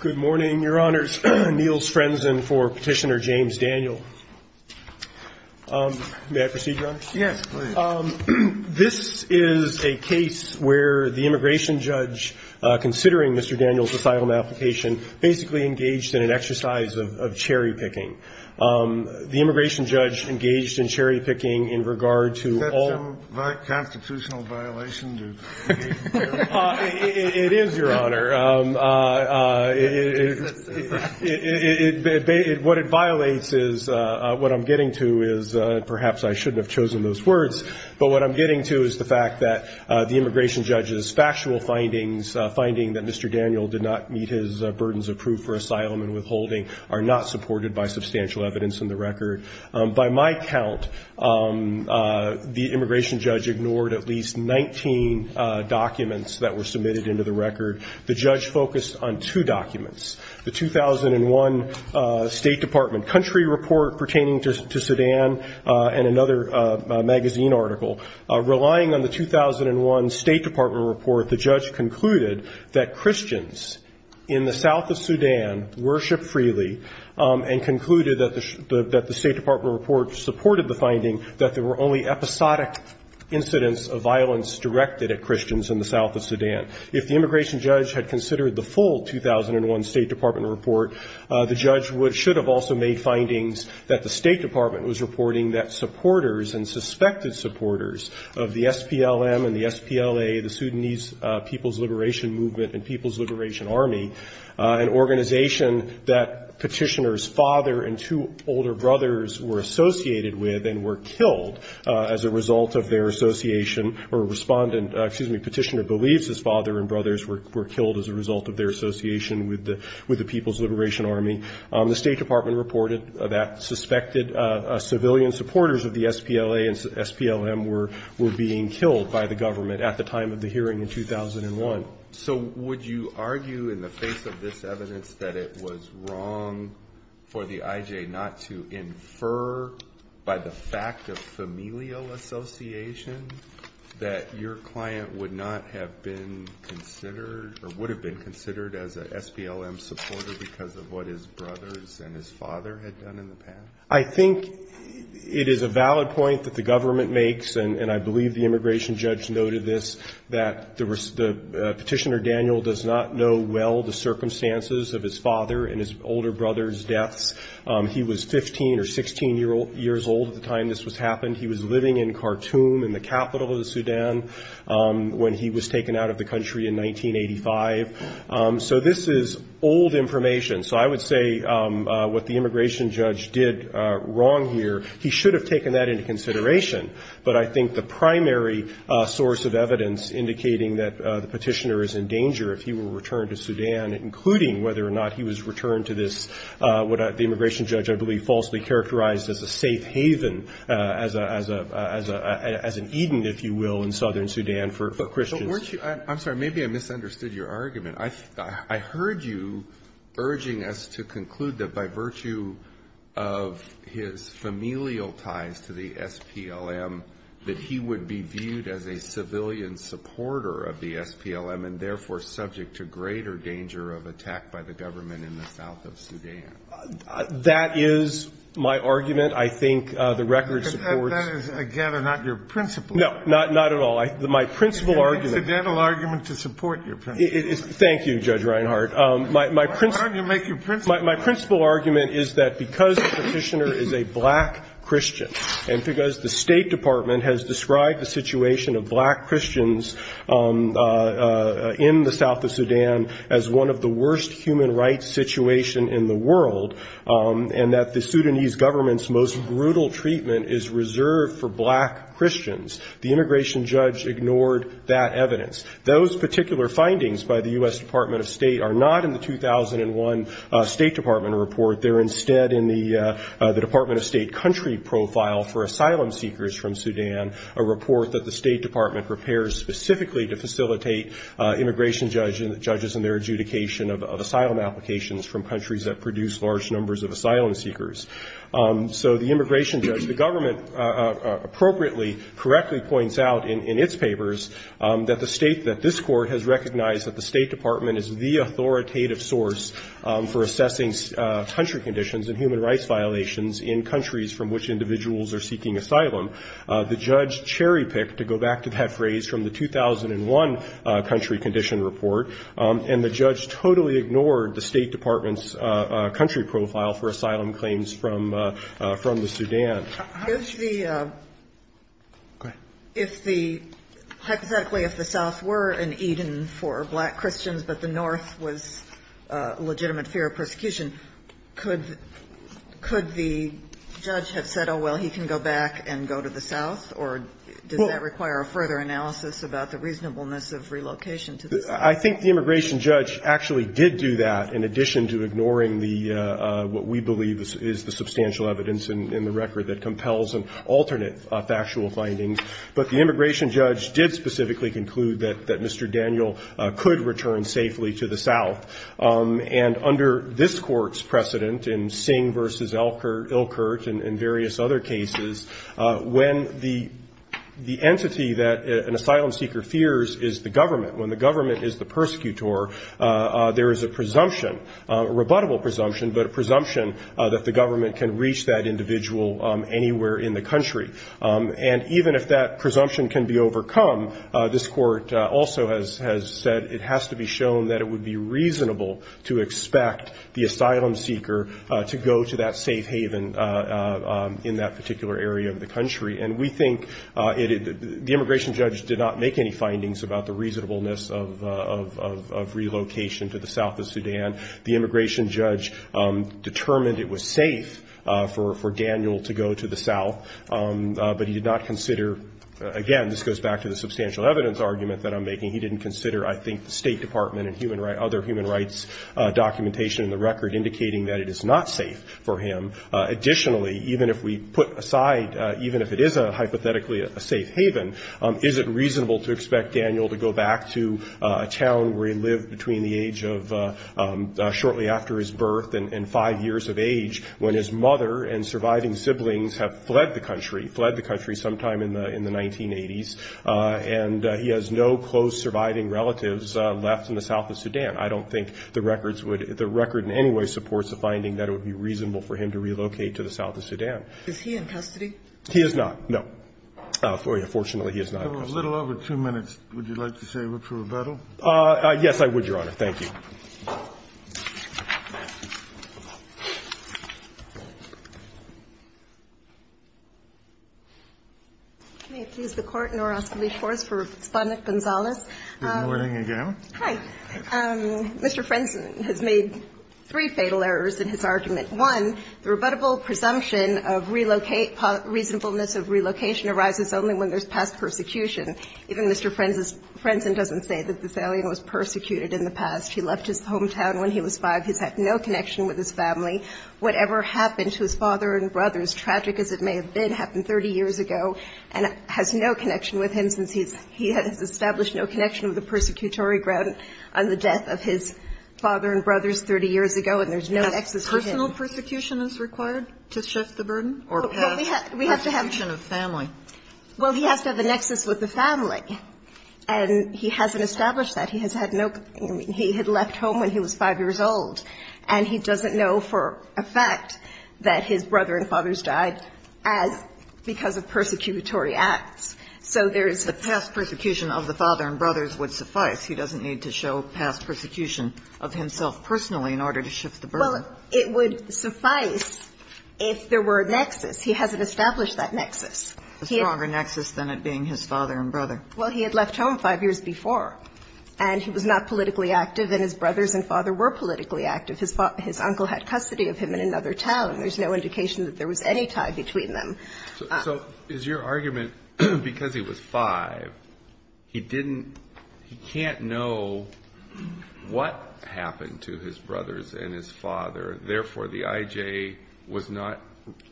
Good morning, Your Honors, Niels Frenzen for Petitioner James Daniel. May I proceed, Your Honor? Yes, please. This is a case where the immigration judge, considering Mr. Daniel's asylum application, basically engaged in an exercise of cherry-picking. The immigration judge engaged in cherry-picking in regard to all- Is that a constitutional violation? It is, Your Honor. What it violates is, what I'm getting to is, perhaps I shouldn't have chosen those words, but what I'm getting to is the fact that the immigration judge's factual findings, finding that Mr. Daniel did not meet his burdens of proof for asylum and withholding, are not supported by substantial evidence in the record. By my count, the immigration judge ignored at least 19 documents that were submitted into the record. The judge focused on two documents, the 2001 State Department country report pertaining to Sudan and another magazine article. Relying on the 2001 State Department report, the judge concluded that Christians in the south of Sudan worshipped freely and concluded that the State Department report supported the finding that there were only episodic incidents of violence directed at Christians in the south of Sudan. If the immigration judge had considered the full 2001 State Department report, the judge should have also made findings that the State Department was reporting that supporters and suspected supporters of the SPLM and the SPLA, the Sudanese People's Liberation Movement and People's Liberation Army, were killed. The State Department reported that Petitioner's father and two older brothers were associated with and were killed as a result of their association, or Respondent, excuse me, Petitioner believes his father and brothers were killed as a result of their association with the People's Liberation Army. The State Department reported that suspected civilian supporters of the SPLA and SPLM were being killed by the government at the time of the hearing in 2001. So would you argue in the face of this evidence that it was wrong for the IJ not to infer by the fact of familial association that your client would not have been considered or would have been considered as a SPLM supporter because of what his brothers and his father had done in the past? I think it is a valid point that the government makes, and I believe the immigration judge noted this, that Petitioner Daniel does not know well the circumstances of his father and his older brother's deaths. He was 15 or 16 years old at the time this happened. He was living in Khartoum in the capital of the Sudan when he was taken out of the country in 1985. So this is old information. So I would say what the immigration judge did wrong here, he should have taken that into consideration. But I think the primary source of evidence indicating that the Petitioner is in danger if he were returned to Sudan, including whether or not he was returned to this, what the immigration judge, I believe, falsely characterized as a safe haven, as an Eden, if you will, in southern Sudan for Christians. But weren't you – I'm sorry. Maybe I misunderstood your argument. I heard you urging us to conclude that by virtue of his familial ties to the SPLM, that he would be viewed as a civilian supporter of the SPLM and therefore subject to greater danger of attack by the government in the south of Sudan. That is my argument. I think the record supports – That is, again, not your principle. No, not at all. My principle argument – It's an incidental argument to support your principle. Thank you, Judge Reinhart. Why don't you make your principle argument? My principle argument is that because the Petitioner is a black Christian and because the State Department has described the situation of black Christians in the south of Sudan as one of the worst human rights situation in the world and that the Sudanese government's most brutal treatment is reserved for black Christians, the immigration judge ignored that evidence. Those particular findings by the U.S. Department of State are not in the 2001 State Department report. They're instead in the Department of State Country Profile for Asylum Seekers from Sudan, a report that the State Department prepares specifically to facilitate immigration judges and their adjudication of asylum applications from countries that produce large numbers of asylum seekers. So the immigration judge – the government appropriately, correctly points out in its papers that the State – that this Court has recognized that the State Department is the authoritative source for assessing country conditions and human rights violations in countries from which individuals are seeking asylum. The judge cherry-picked, to go back to that phrase, from the 2001 country condition report, and the judge totally ignored the State Department's country profile for asylum claims from the Sudan. Sotomayor, if the – hypothetically, if the south were an Eden for black Christians, but the north was a legitimate fear of persecution, could the judge have said, oh, well, he can go back and go to the south, or does that require a further analysis about the reasonableness of relocation to the south? I think the immigration judge actually did do that, in addition to ignoring the – what we believe is the substantial evidence in the record that compels an alternate factual finding. But the immigration judge did specifically conclude that Mr. Daniel could return safely to the south. And under this Court's precedent in Singh v. Ilkert and various other cases, when the entity that an asylum seeker fears is the government, when the government is the persecutor, there is a presumption, a rebuttable presumption, but a presumption that the government can reach that individual anywhere in the country. And even if that presumption can be overcome, this Court also has said it has to be shown that it would be reasonable to expect the asylum seeker to go to that safe haven in that particular area of the country. And we think the immigration judge did not make any findings about the reasonableness of relocation to the south of Sudan. The immigration judge determined it was safe for Daniel to go to the south, but he did not consider – again, this goes back to the substantial evidence argument that I'm making – he didn't consider, I think, the State Department and other human rights documentation in the record indicating that it is not safe for him. Additionally, even if we put aside – even if it is hypothetically a safe haven, is it reasonable to expect Daniel to go back to a town where he lived between the age of – shortly after his birth and five years of age when his mother and surviving siblings have fled the country, fled the country sometime in the 1980s, and he has no close surviving relatives left in the south of Sudan? I don't think the records would – the record in any way supports the finding that it would be reasonable for him to relocate to the south of Sudan. Is he in custody? He is not, no. Unfortunately, he is not in custody. For a little over two minutes, would you like to say a word for rebuttal? Yes, I would, Your Honor. Thank you. May it please the Court, and I'll ask to leave the floor for Respondent Gonzalez. Good morning again. Hi. Mr. Frenzen has made three fatal errors in his argument. One, the rebuttable presumption of relocate – reasonableness of relocation arises only when there's past persecution. Even Mr. Frenzen doesn't say that this alien was persecuted in the past. He left his hometown when he was five. He's had no connection with his family. Whatever happened to his father and brothers, tragic as it may have been, happened 30 years ago, and has no connection with him since he's – he has established no connection with the persecutory ground on the death of his father and brothers 30 years ago, and there's no nexus for him. And personal persecution is required to shift the burden, or past persecution of family? Well, we have to have – well, he has to have a nexus with the family, and he hasn't established that. He has had no – I mean, he had left home when he was five years old, and he doesn't know for a fact that his brother and fathers died as – because of persecutory acts. So there's his – But past persecution of the father and brothers would suffice. He doesn't need to show past persecution of himself personally in order to shift the burden. Well, it would suffice if there were a nexus. He hasn't established that nexus. A stronger nexus than it being his father and brother. Well, he had left home five years before, and he was not politically active, and his brothers and father were politically active. His father – his uncle had custody of him in another town. There's no indication that there was any tie between them. So is your argument, because he was five, he didn't – he can't know what happened to his brothers and his father. Therefore, the IJ was not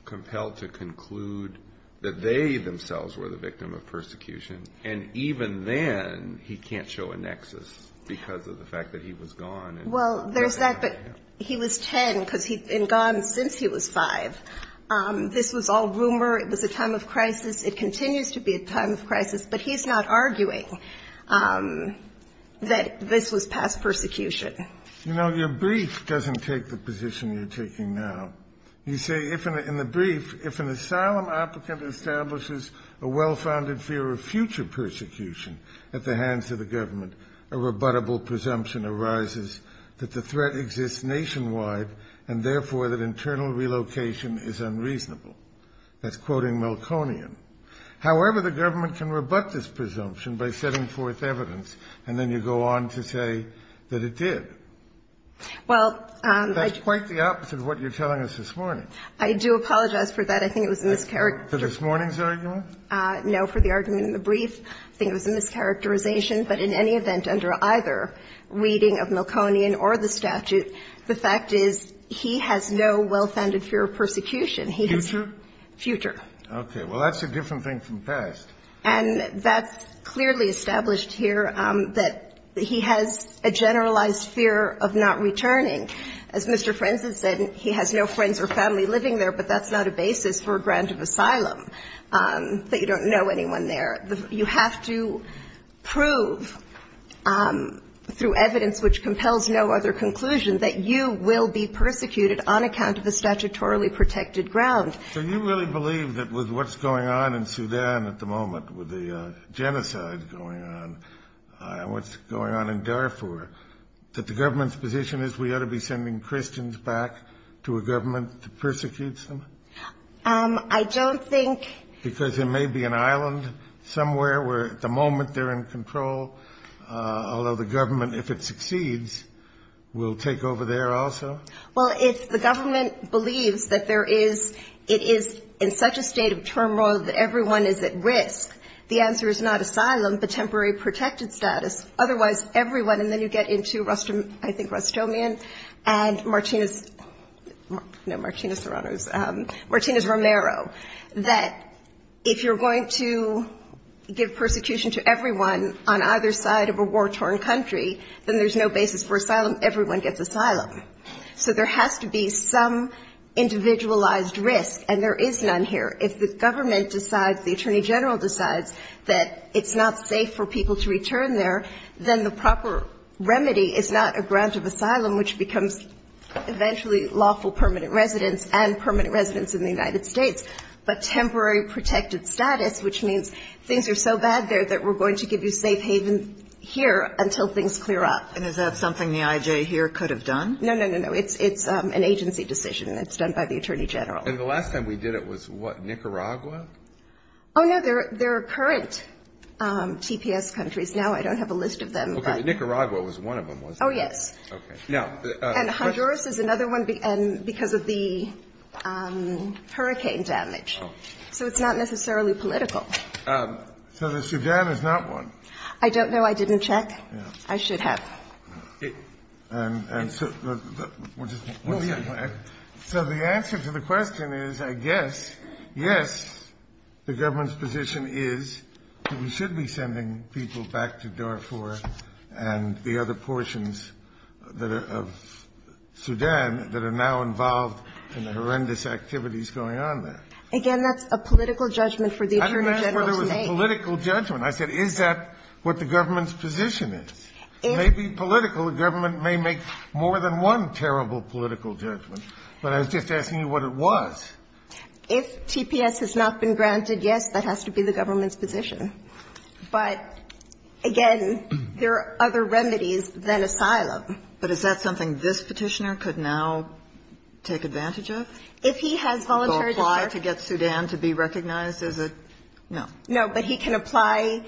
compelled to conclude that they themselves were the victim of persecution. And even then, he can't show a nexus because of the fact that he was gone. Well, there's that, but he was ten because he'd been gone since he was five. This was all rumor. It was a time of crisis. It continues to be a time of crisis. But he's not arguing that this was past persecution. You know, your brief doesn't take the position you're taking now. You say in the brief, if an asylum applicant establishes a well-founded fear of future persecution at the hands of the government, a rebuttable presumption arises that the threat exists nationwide and, therefore, that internal relocation is unreasonable. That's quoting Milconian. However, the government can rebut this presumption by setting forth evidence, and then you go on to say that it did. Well, I – That's quite the opposite of what you're telling us this morning. I do apologize for that. I think it was a mischaracter – For this morning's argument? No, for the argument in the brief. I think it was a mischaracterization. But in any event, under either reading of Milconian or the statute, the fact is he has no well-founded fear of persecution. He has – Future? Future. Okay. Well, that's a different thing from past. And that's clearly established here that he has a generalized fear of not returning. As Mr. Frenzen said, he has no friends or family living there, but that's not a basis for a grant of asylum, that you don't know anyone there. You have to prove through evidence which compels no other conclusion that you will be persecuted on account of the statutorily protected ground. So you really believe that with what's going on in Sudan at the moment, with the genocide going on, what's going on in Darfur, that the government's position is we ought to be sending Christians back to a government that persecutes them? I don't think – Because there may be an island somewhere where at the moment they're in control, although the government, if it succeeds, will take over there also? Well, if the government believes that there is – it is in such a state of turmoil that everyone is at risk, the answer is not asylum, but temporary protected status. Otherwise, everyone – and then you get into, I think, Rustomian and Martina's – no, Martina Serrano's – Martina Romero, that if you're going to give persecution to everyone on either side of a war-torn country, then there's no basis for asylum. Everyone gets asylum. So there has to be some individualized risk, and there is none here. If the government decides, the Attorney General decides that it's not safe for people to return there, then the proper remedy is not a grant of asylum, which becomes eventually lawful permanent residence and permanent residence in the United States, but temporary protected status, which means things are so bad there that we're going to give you safe haven here until things clear up. And is that something the IJ here could have done? No, no, no, no. It's an agency decision. It's done by the Attorney General. And the last time we did it was, what, Nicaragua? Oh, no. There are current TPS countries now. I don't have a list of them, but – Okay. But Nicaragua was one of them, wasn't it? Oh, yes. And Honduras is another one because of the hurricane damage. So it's not necessarily political. So the Sudan is not one. I don't know. I didn't check. I should have. So the answer to the question is, I guess, yes, the government's position is that people back to Darfur and the other portions of Sudan that are now involved in the horrendous activities going on there. Again, that's a political judgment for the Attorney General to make. I didn't ask whether it was a political judgment. I said, is that what the government's position is? It may be political. The government may make more than one terrible political judgment. But I was just asking you what it was. If TPS has not been granted, yes, that has to be the government's position. But, again, there are other remedies than asylum. But is that something this Petitioner could now take advantage of? If he has voluntary to get Sudan to be recognized, is it? No. No. But he can apply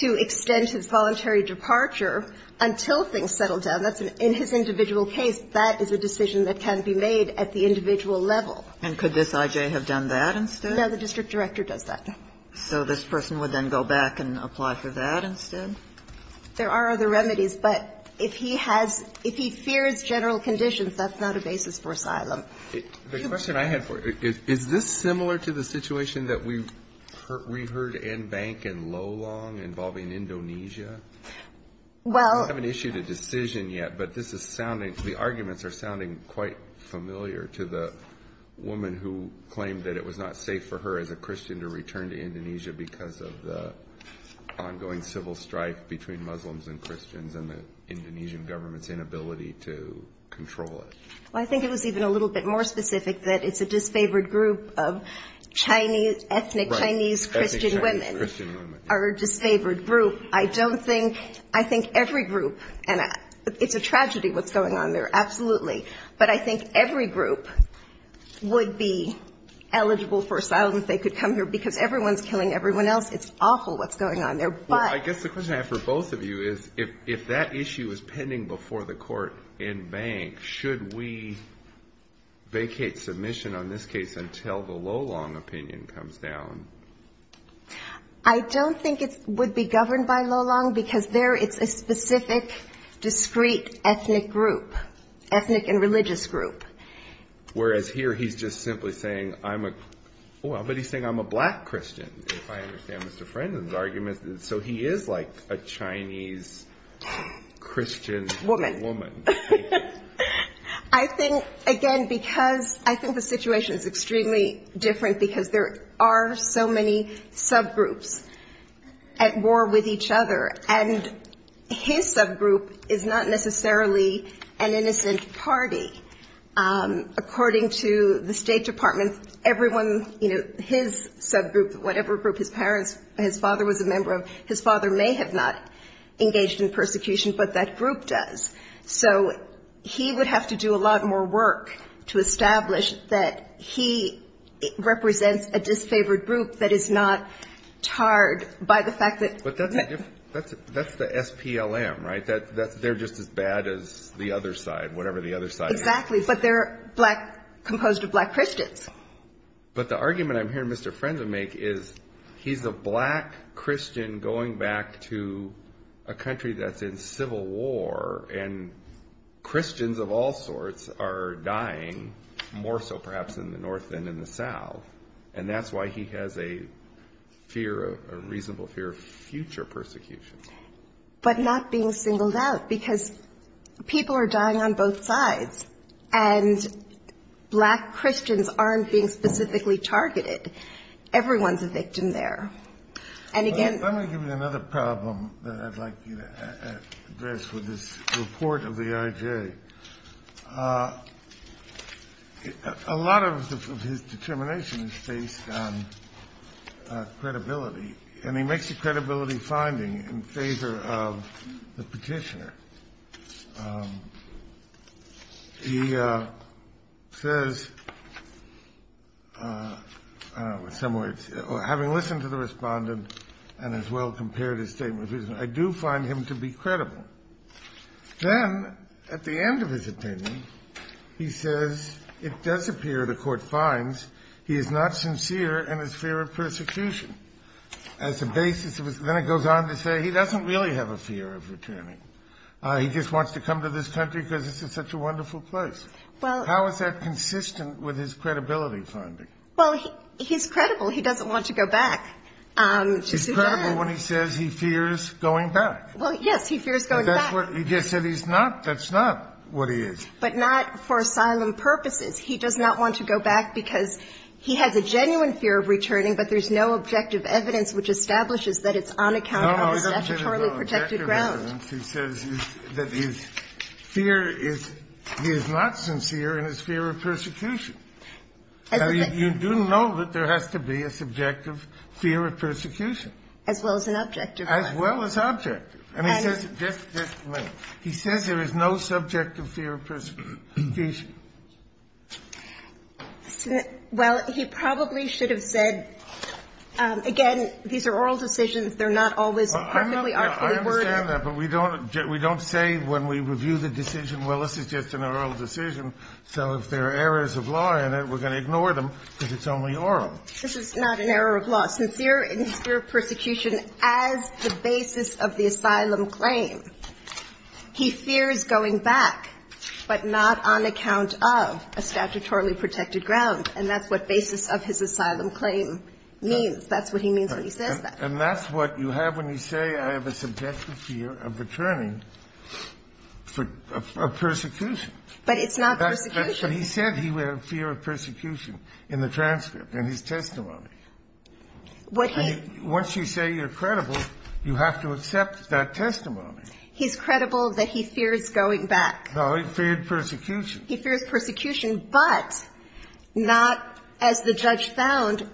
to extend his voluntary departure until things settle down. In his individual case, that is a decision that can be made at the individual level. And could this I.J. have done that instead? The district director does that. So this person would then go back and apply for that instead? There are other remedies. But if he has, if he fears general conditions, that's not a basis for asylum. The question I had for you, is this similar to the situation that we've heard in Bank and Lolong involving Indonesia? Well. We haven't issued a decision yet, but this is sounding, the arguments are sounding quite familiar to the woman who claimed that it was not safe for her as a Christian to return to Indonesia because of the ongoing civil strife between Muslims and Christians and the Indonesian government's inability to control it. Well, I think it was even a little bit more specific that it's a disfavored group of Chinese, ethnic Chinese Christian women. Ethnic Christian women. Are a disfavored group. I don't think, I think every group, and it's a tragedy what's going on there, absolutely. But I think every group would be eligible for asylum if they could come here because everyone's killing everyone else. It's awful what's going on there. But. Well, I guess the question I have for both of you is if that issue is pending before the court in Bank, should we vacate submission on this case until the Lolong opinion comes down? I don't think it would be governed by Lolong because there it's a specific discreet ethnic group, ethnic and religious group. Whereas here he's just simply saying, I'm a, well, but he's saying I'm a black Christian. If I understand Mr. Frenden's argument. So he is like a Chinese Christian woman. I think again, because I think the situation is extremely different because there are so many subgroups at war with each other and his subgroup is not necessarily an innocent party. According to the State Department, everyone, you know, his subgroup, whatever group, his parents, his father was a member of, his father may have not engaged in persecution, but that group does. So he would have to do a lot more work to establish that he represents a disfavored group that is not tarred by the fact that. That's the SPLM, right? They're just as bad as the other side, whatever the other side is. Exactly. But they're composed of black Christians. But the argument I'm hearing Mr. Frenden make is he's a black Christian going back to a country that's in civil war and Christians of all sorts are dying more so perhaps in the north than in the south. And that's why he has a fear, a reasonable fear of future persecution. But not being singled out because people are dying on both sides. And black Christians aren't being specifically targeted. Everyone's a victim there. And again... Let me give you another problem that I'd like you to address with this report of the IJ. A lot of his determination is based on credibility. And he makes a credibility finding in favor of the Petitioner. He says, in some ways, having listened to the Respondent and as well compared his statement, I do find him to be credible. Then, at the end of his opinion, he says, it does appear the Court finds he is not sincere in his fear of persecution. Then it goes on to say he doesn't really have a fear of returning. He just wants to come to this country because this is such a wonderful place. How is that consistent with his credibility finding? Well, he's credible. He doesn't want to go back. He's credible when he says he fears going back. Well, yes, he fears going back. But that's what he just said. He's not. That's not what he is. But not for asylum purposes. He does not want to go back because he has a genuine fear of returning, but there's no objective evidence which establishes that it's on account of the statutorily protected ground. No, no. He doesn't say there's no objective evidence. He says that his fear is he is not sincere in his fear of persecution. You do know that there has to be a subjective fear of persecution. As well as an objective one. As well as objective. He says there is no subjective fear of persecution. Well, he probably should have said, again, these are oral decisions. They're not always perfectly artfully worded. I understand that, but we don't say when we review the decision, well, this is just an oral decision, so if there are errors of law in it, we're going to ignore them This is not an error of law. He says he is not sincere in his fear of persecution as the basis of the asylum claim. He fears going back, but not on account of a statutorily protected ground, and that's what basis of his asylum claim means. That's what he means when he says that. And that's what you have when you say I have a subjective fear of returning for persecution. But it's not persecution. But he said he had a fear of persecution in the transcript, in his testimony. Once you say you're credible, you have to accept that testimony. He's credible that he fears going back. No, he feared persecution. He fears persecution, but not as the judge found.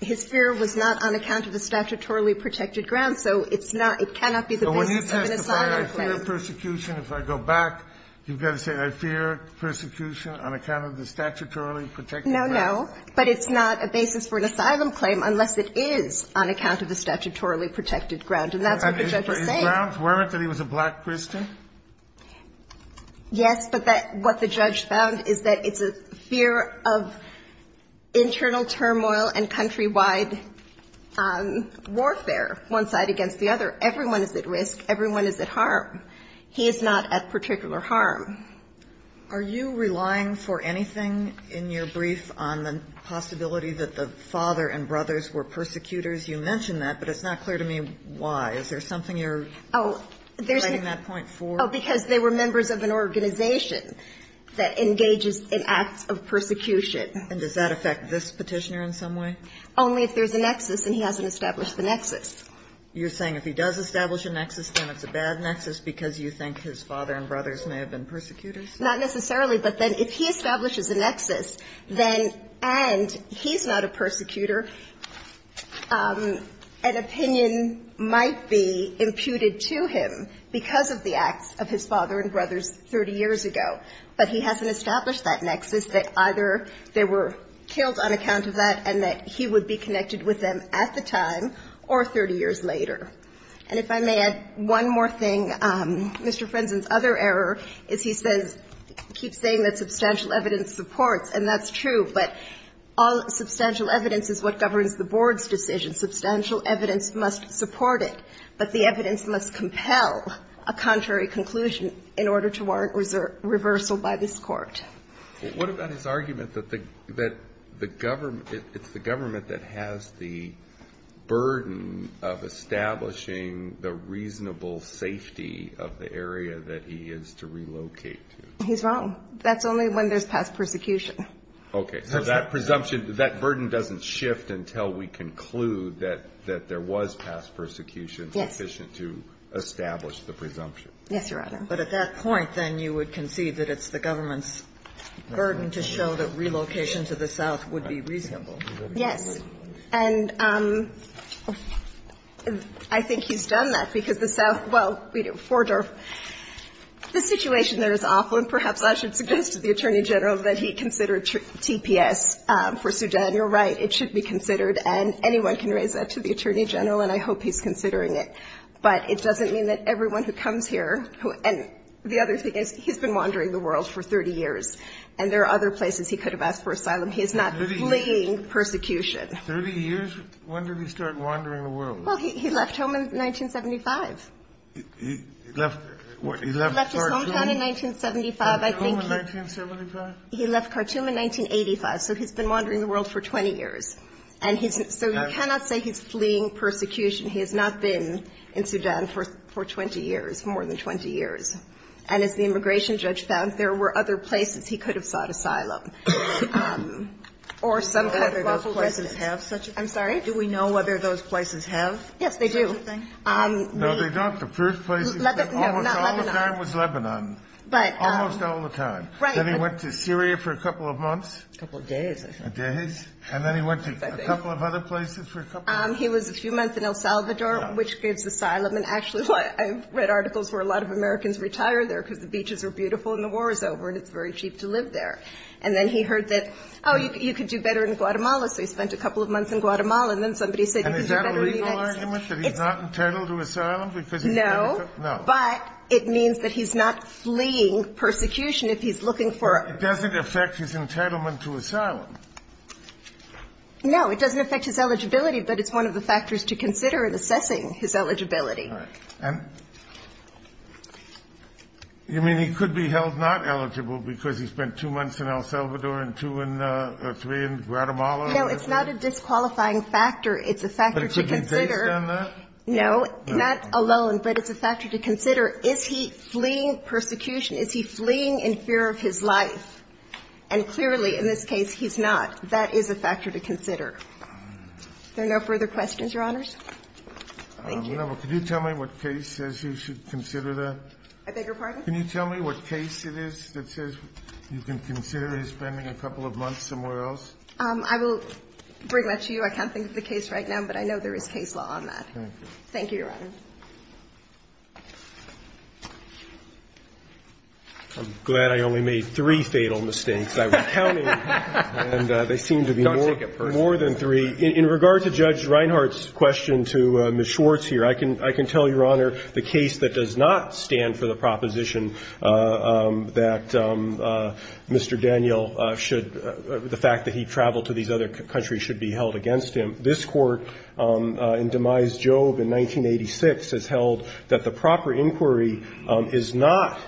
His fear was not on account of the statutorily protected ground, so it's not, it cannot be the basis of an asylum claim. So when he testified, I fear persecution, if I go back, you've got to say I fear persecution on account of the statutorily protected ground. No, no. But it's not a basis for an asylum claim unless it is on account of the statutorily protected ground. And that's what the judge is saying. And his grounds weren't that he was a black Christian? Yes, but what the judge found is that it's a fear of internal turmoil and countrywide warfare, one side against the other. Everyone is at risk. Everyone is at harm. He is not at particular harm. Are you relying for anything in your brief on the possibility that the father and brothers were persecutors? You mentioned that, but it's not clear to me why. Is there something you're citing that point for? Oh, because they were members of an organization that engages in acts of persecution. And does that affect this Petitioner in some way? Only if there's a nexus and he hasn't established the nexus. You're saying if he does establish a nexus, then it's a bad nexus because you think his father and brothers may have been persecutors? Not necessarily. But then if he establishes a nexus, then, and he's not a persecutor, an opinion might be imputed to him because of the acts of his father and brothers 30 years ago. But he hasn't established that nexus, that either they were killed on account of that and that he would be connected with them at the time or 30 years later. And if I may add one more thing, Mr. Frenzen's other error is he says, keeps saying that substantial evidence supports, and that's true, but all substantial evidence is what governs the Board's decision. Substantial evidence must support it, but the evidence must compel a contrary conclusion in order to warrant reversal by this Court. What about his argument that the government, it's the government that has the burden of establishing the reasonable safety of the area that he is to relocate to? He's wrong. That's only when there's past persecution. Okay. So that presumption, that burden doesn't shift until we conclude that there was past persecution sufficient to establish the presumption. Yes, Your Honor. But at that point, then, you would concede that it's the government's burden to show that relocation to the south would be reasonable. Yes. And I think he's done that, because the south – well, Forder, the situation there is awful, and perhaps I should suggest to the Attorney General that he considered TPS for Sudan. You're right, it should be considered, and anyone can raise that to the Attorney General, and I hope he's considering it. But it doesn't mean that everyone who comes here – and the other thing is, he's been wandering the world for 30 years, and there are other places he could have asked for asylum. He's not fleeing persecution. 30 years? When did he start wandering the world? Well, he left home in 1975. He left his hometown in 1975. He left home in 1975? He left Khartoum in 1985. So he's been wandering the world for 20 years. And so you cannot say he's fleeing persecution. He has not been in Sudan for 20 years, more than 20 years. And as the immigration judge found, there were other places he could have sought asylum, or some other of those places. Do we know whether those places have such a thing? I'm sorry? Do we know whether those places have such a thing? Yes, they do. No, they don't. The first place he went almost all the time was Lebanon. Almost all the time. Right. Then he went to Syria for a couple of months. A couple of days, I think. Days. And then he went to a couple of other places for a couple of months. He was a few months in El Salvador, which gives asylum. And actually, I've read articles where a lot of Americans retire there because the beaches are beautiful and the war is over and it's very cheap to live there. And then he heard that, oh, you could do better in Guatemala. So he spent a couple of months in Guatemala, and then somebody said he could do better in the United States. And is that a legal argument, that he's not entitled to asylum? No. No. But it means that he's not fleeing persecution if he's looking for a ---- But it doesn't affect his entitlement to asylum. No. It doesn't affect his eligibility, but it's one of the factors to consider in assessing his eligibility. All right. And you mean he could be held not eligible because he spent two months in El Salvador and two and three in Guatemala? No. It's not a disqualifying factor. It's a factor to consider. But it could be based on that? No. Not alone, but it's a factor to consider. Is he fleeing persecution? Is he fleeing in fear of his life? And clearly, in this case, he's not. That is a factor to consider. Are there no further questions, Your Honors? Thank you. No, but could you tell me what case says you should consider the ---- I beg your pardon? Can you tell me what case it is that says you can consider his spending a couple of months somewhere else? I will bring that to you. I can't think of the case right now, but I know there is case law on that. Thank you. Thank you, Your Honor. I'm glad I only made three fatal mistakes. I was counting. And they seem to be more than three. In regard to Judge Reinhardt's question to Ms. Schwartz here, I can tell you, Your Honor, the case that does not stand for the proposition that Mr. Daniel should ---- the fact that he traveled to these other countries should be held against him. This Court, in Demise Jobe in 1986, has held that the proper inquiry is not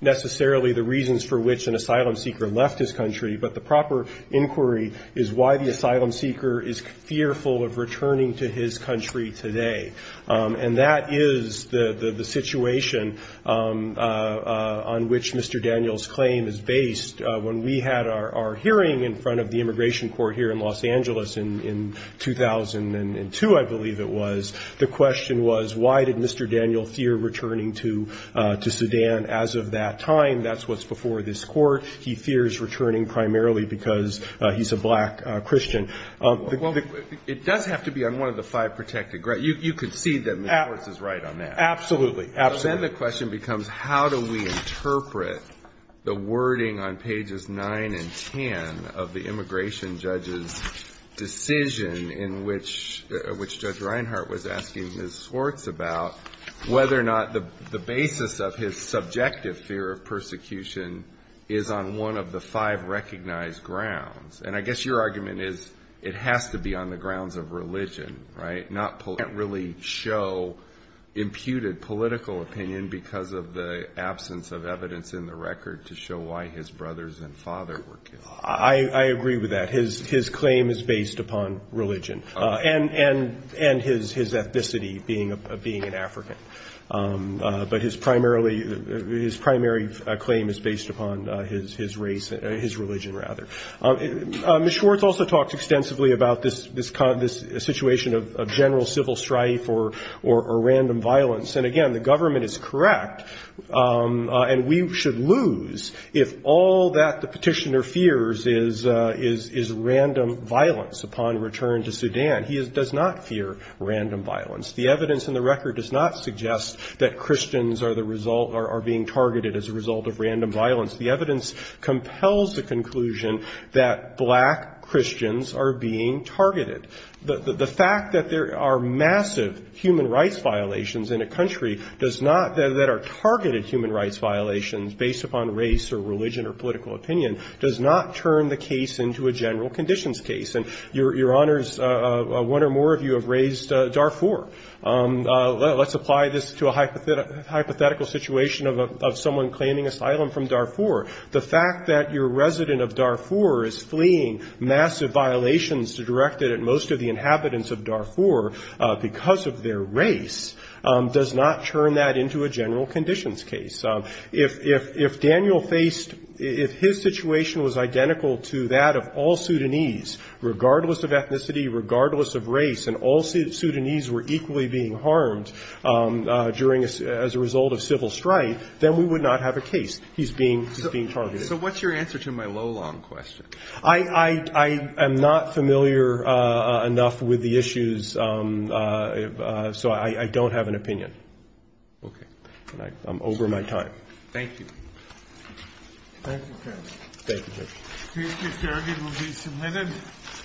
necessarily the reasons for which an asylum seeker left his country, but the proper inquiry is why the asylum seeker is fearful of returning to his country today. And that is the situation on which Mr. Daniel's claim is based. When we had our hearing in front of the Immigration Court here in Los Angeles in 2002, I believe it was, the question was, why did Mr. Daniel fear returning to Sudan as of that time? That's what's before this Court. He fears returning primarily because he's a black Christian. Well, it does have to be on one of the five protected grounds. You concede that Ms. Schwartz is right on that. Absolutely. Absolutely. Then the question becomes, how do we interpret the wording on pages 9 and 10 of the Immigration Judge's decision in which Judge Reinhardt was asking Ms. Schwartz on one of the five recognized grounds? And I guess your argument is it has to be on the grounds of religion, right? Not really show imputed political opinion because of the absence of evidence in the record to show why his brothers and father were killed. I agree with that. His claim is based upon religion. And his ethnicity, being an African. But his primary claim is based upon his race, his religion, rather. Ms. Schwartz also talked extensively about this situation of general civil strife or random violence. And again, the government is correct, and we should lose if all that the petitioner fears is random violence upon return to Sudan. He does not fear random violence. The evidence in the record does not suggest that Christians are the result, are being targeted as a result of random violence. The evidence compels the conclusion that black Christians are being targeted. The fact that there are massive human rights violations in a country does not, that are targeted human rights violations based upon race or religion or political opinion, does not turn the case into a general conditions case. And Your Honors, one or more of you have raised Darfur. Let's apply this to a hypothetical situation of someone claiming asylum from Darfur. The fact that your resident of Darfur is fleeing massive violations directed at most of the inhabitants of Darfur because of their race does not turn that into a general conditions case. If Daniel faced, if his situation was identical to that of all Sudanese, regardless of ethnicity, regardless of race, and all Sudanese were equally being harmed during a, as a result of civil strife, then we would not have a case. He's being, he's being targeted. So what's your answer to my low-long question? I, I, I am not familiar enough with the issues, so I, I don't have an opinion. Okay. I'm over my time. Thank you. Thank you. Thank you. Thank you, Chairman. Thank you Chairman.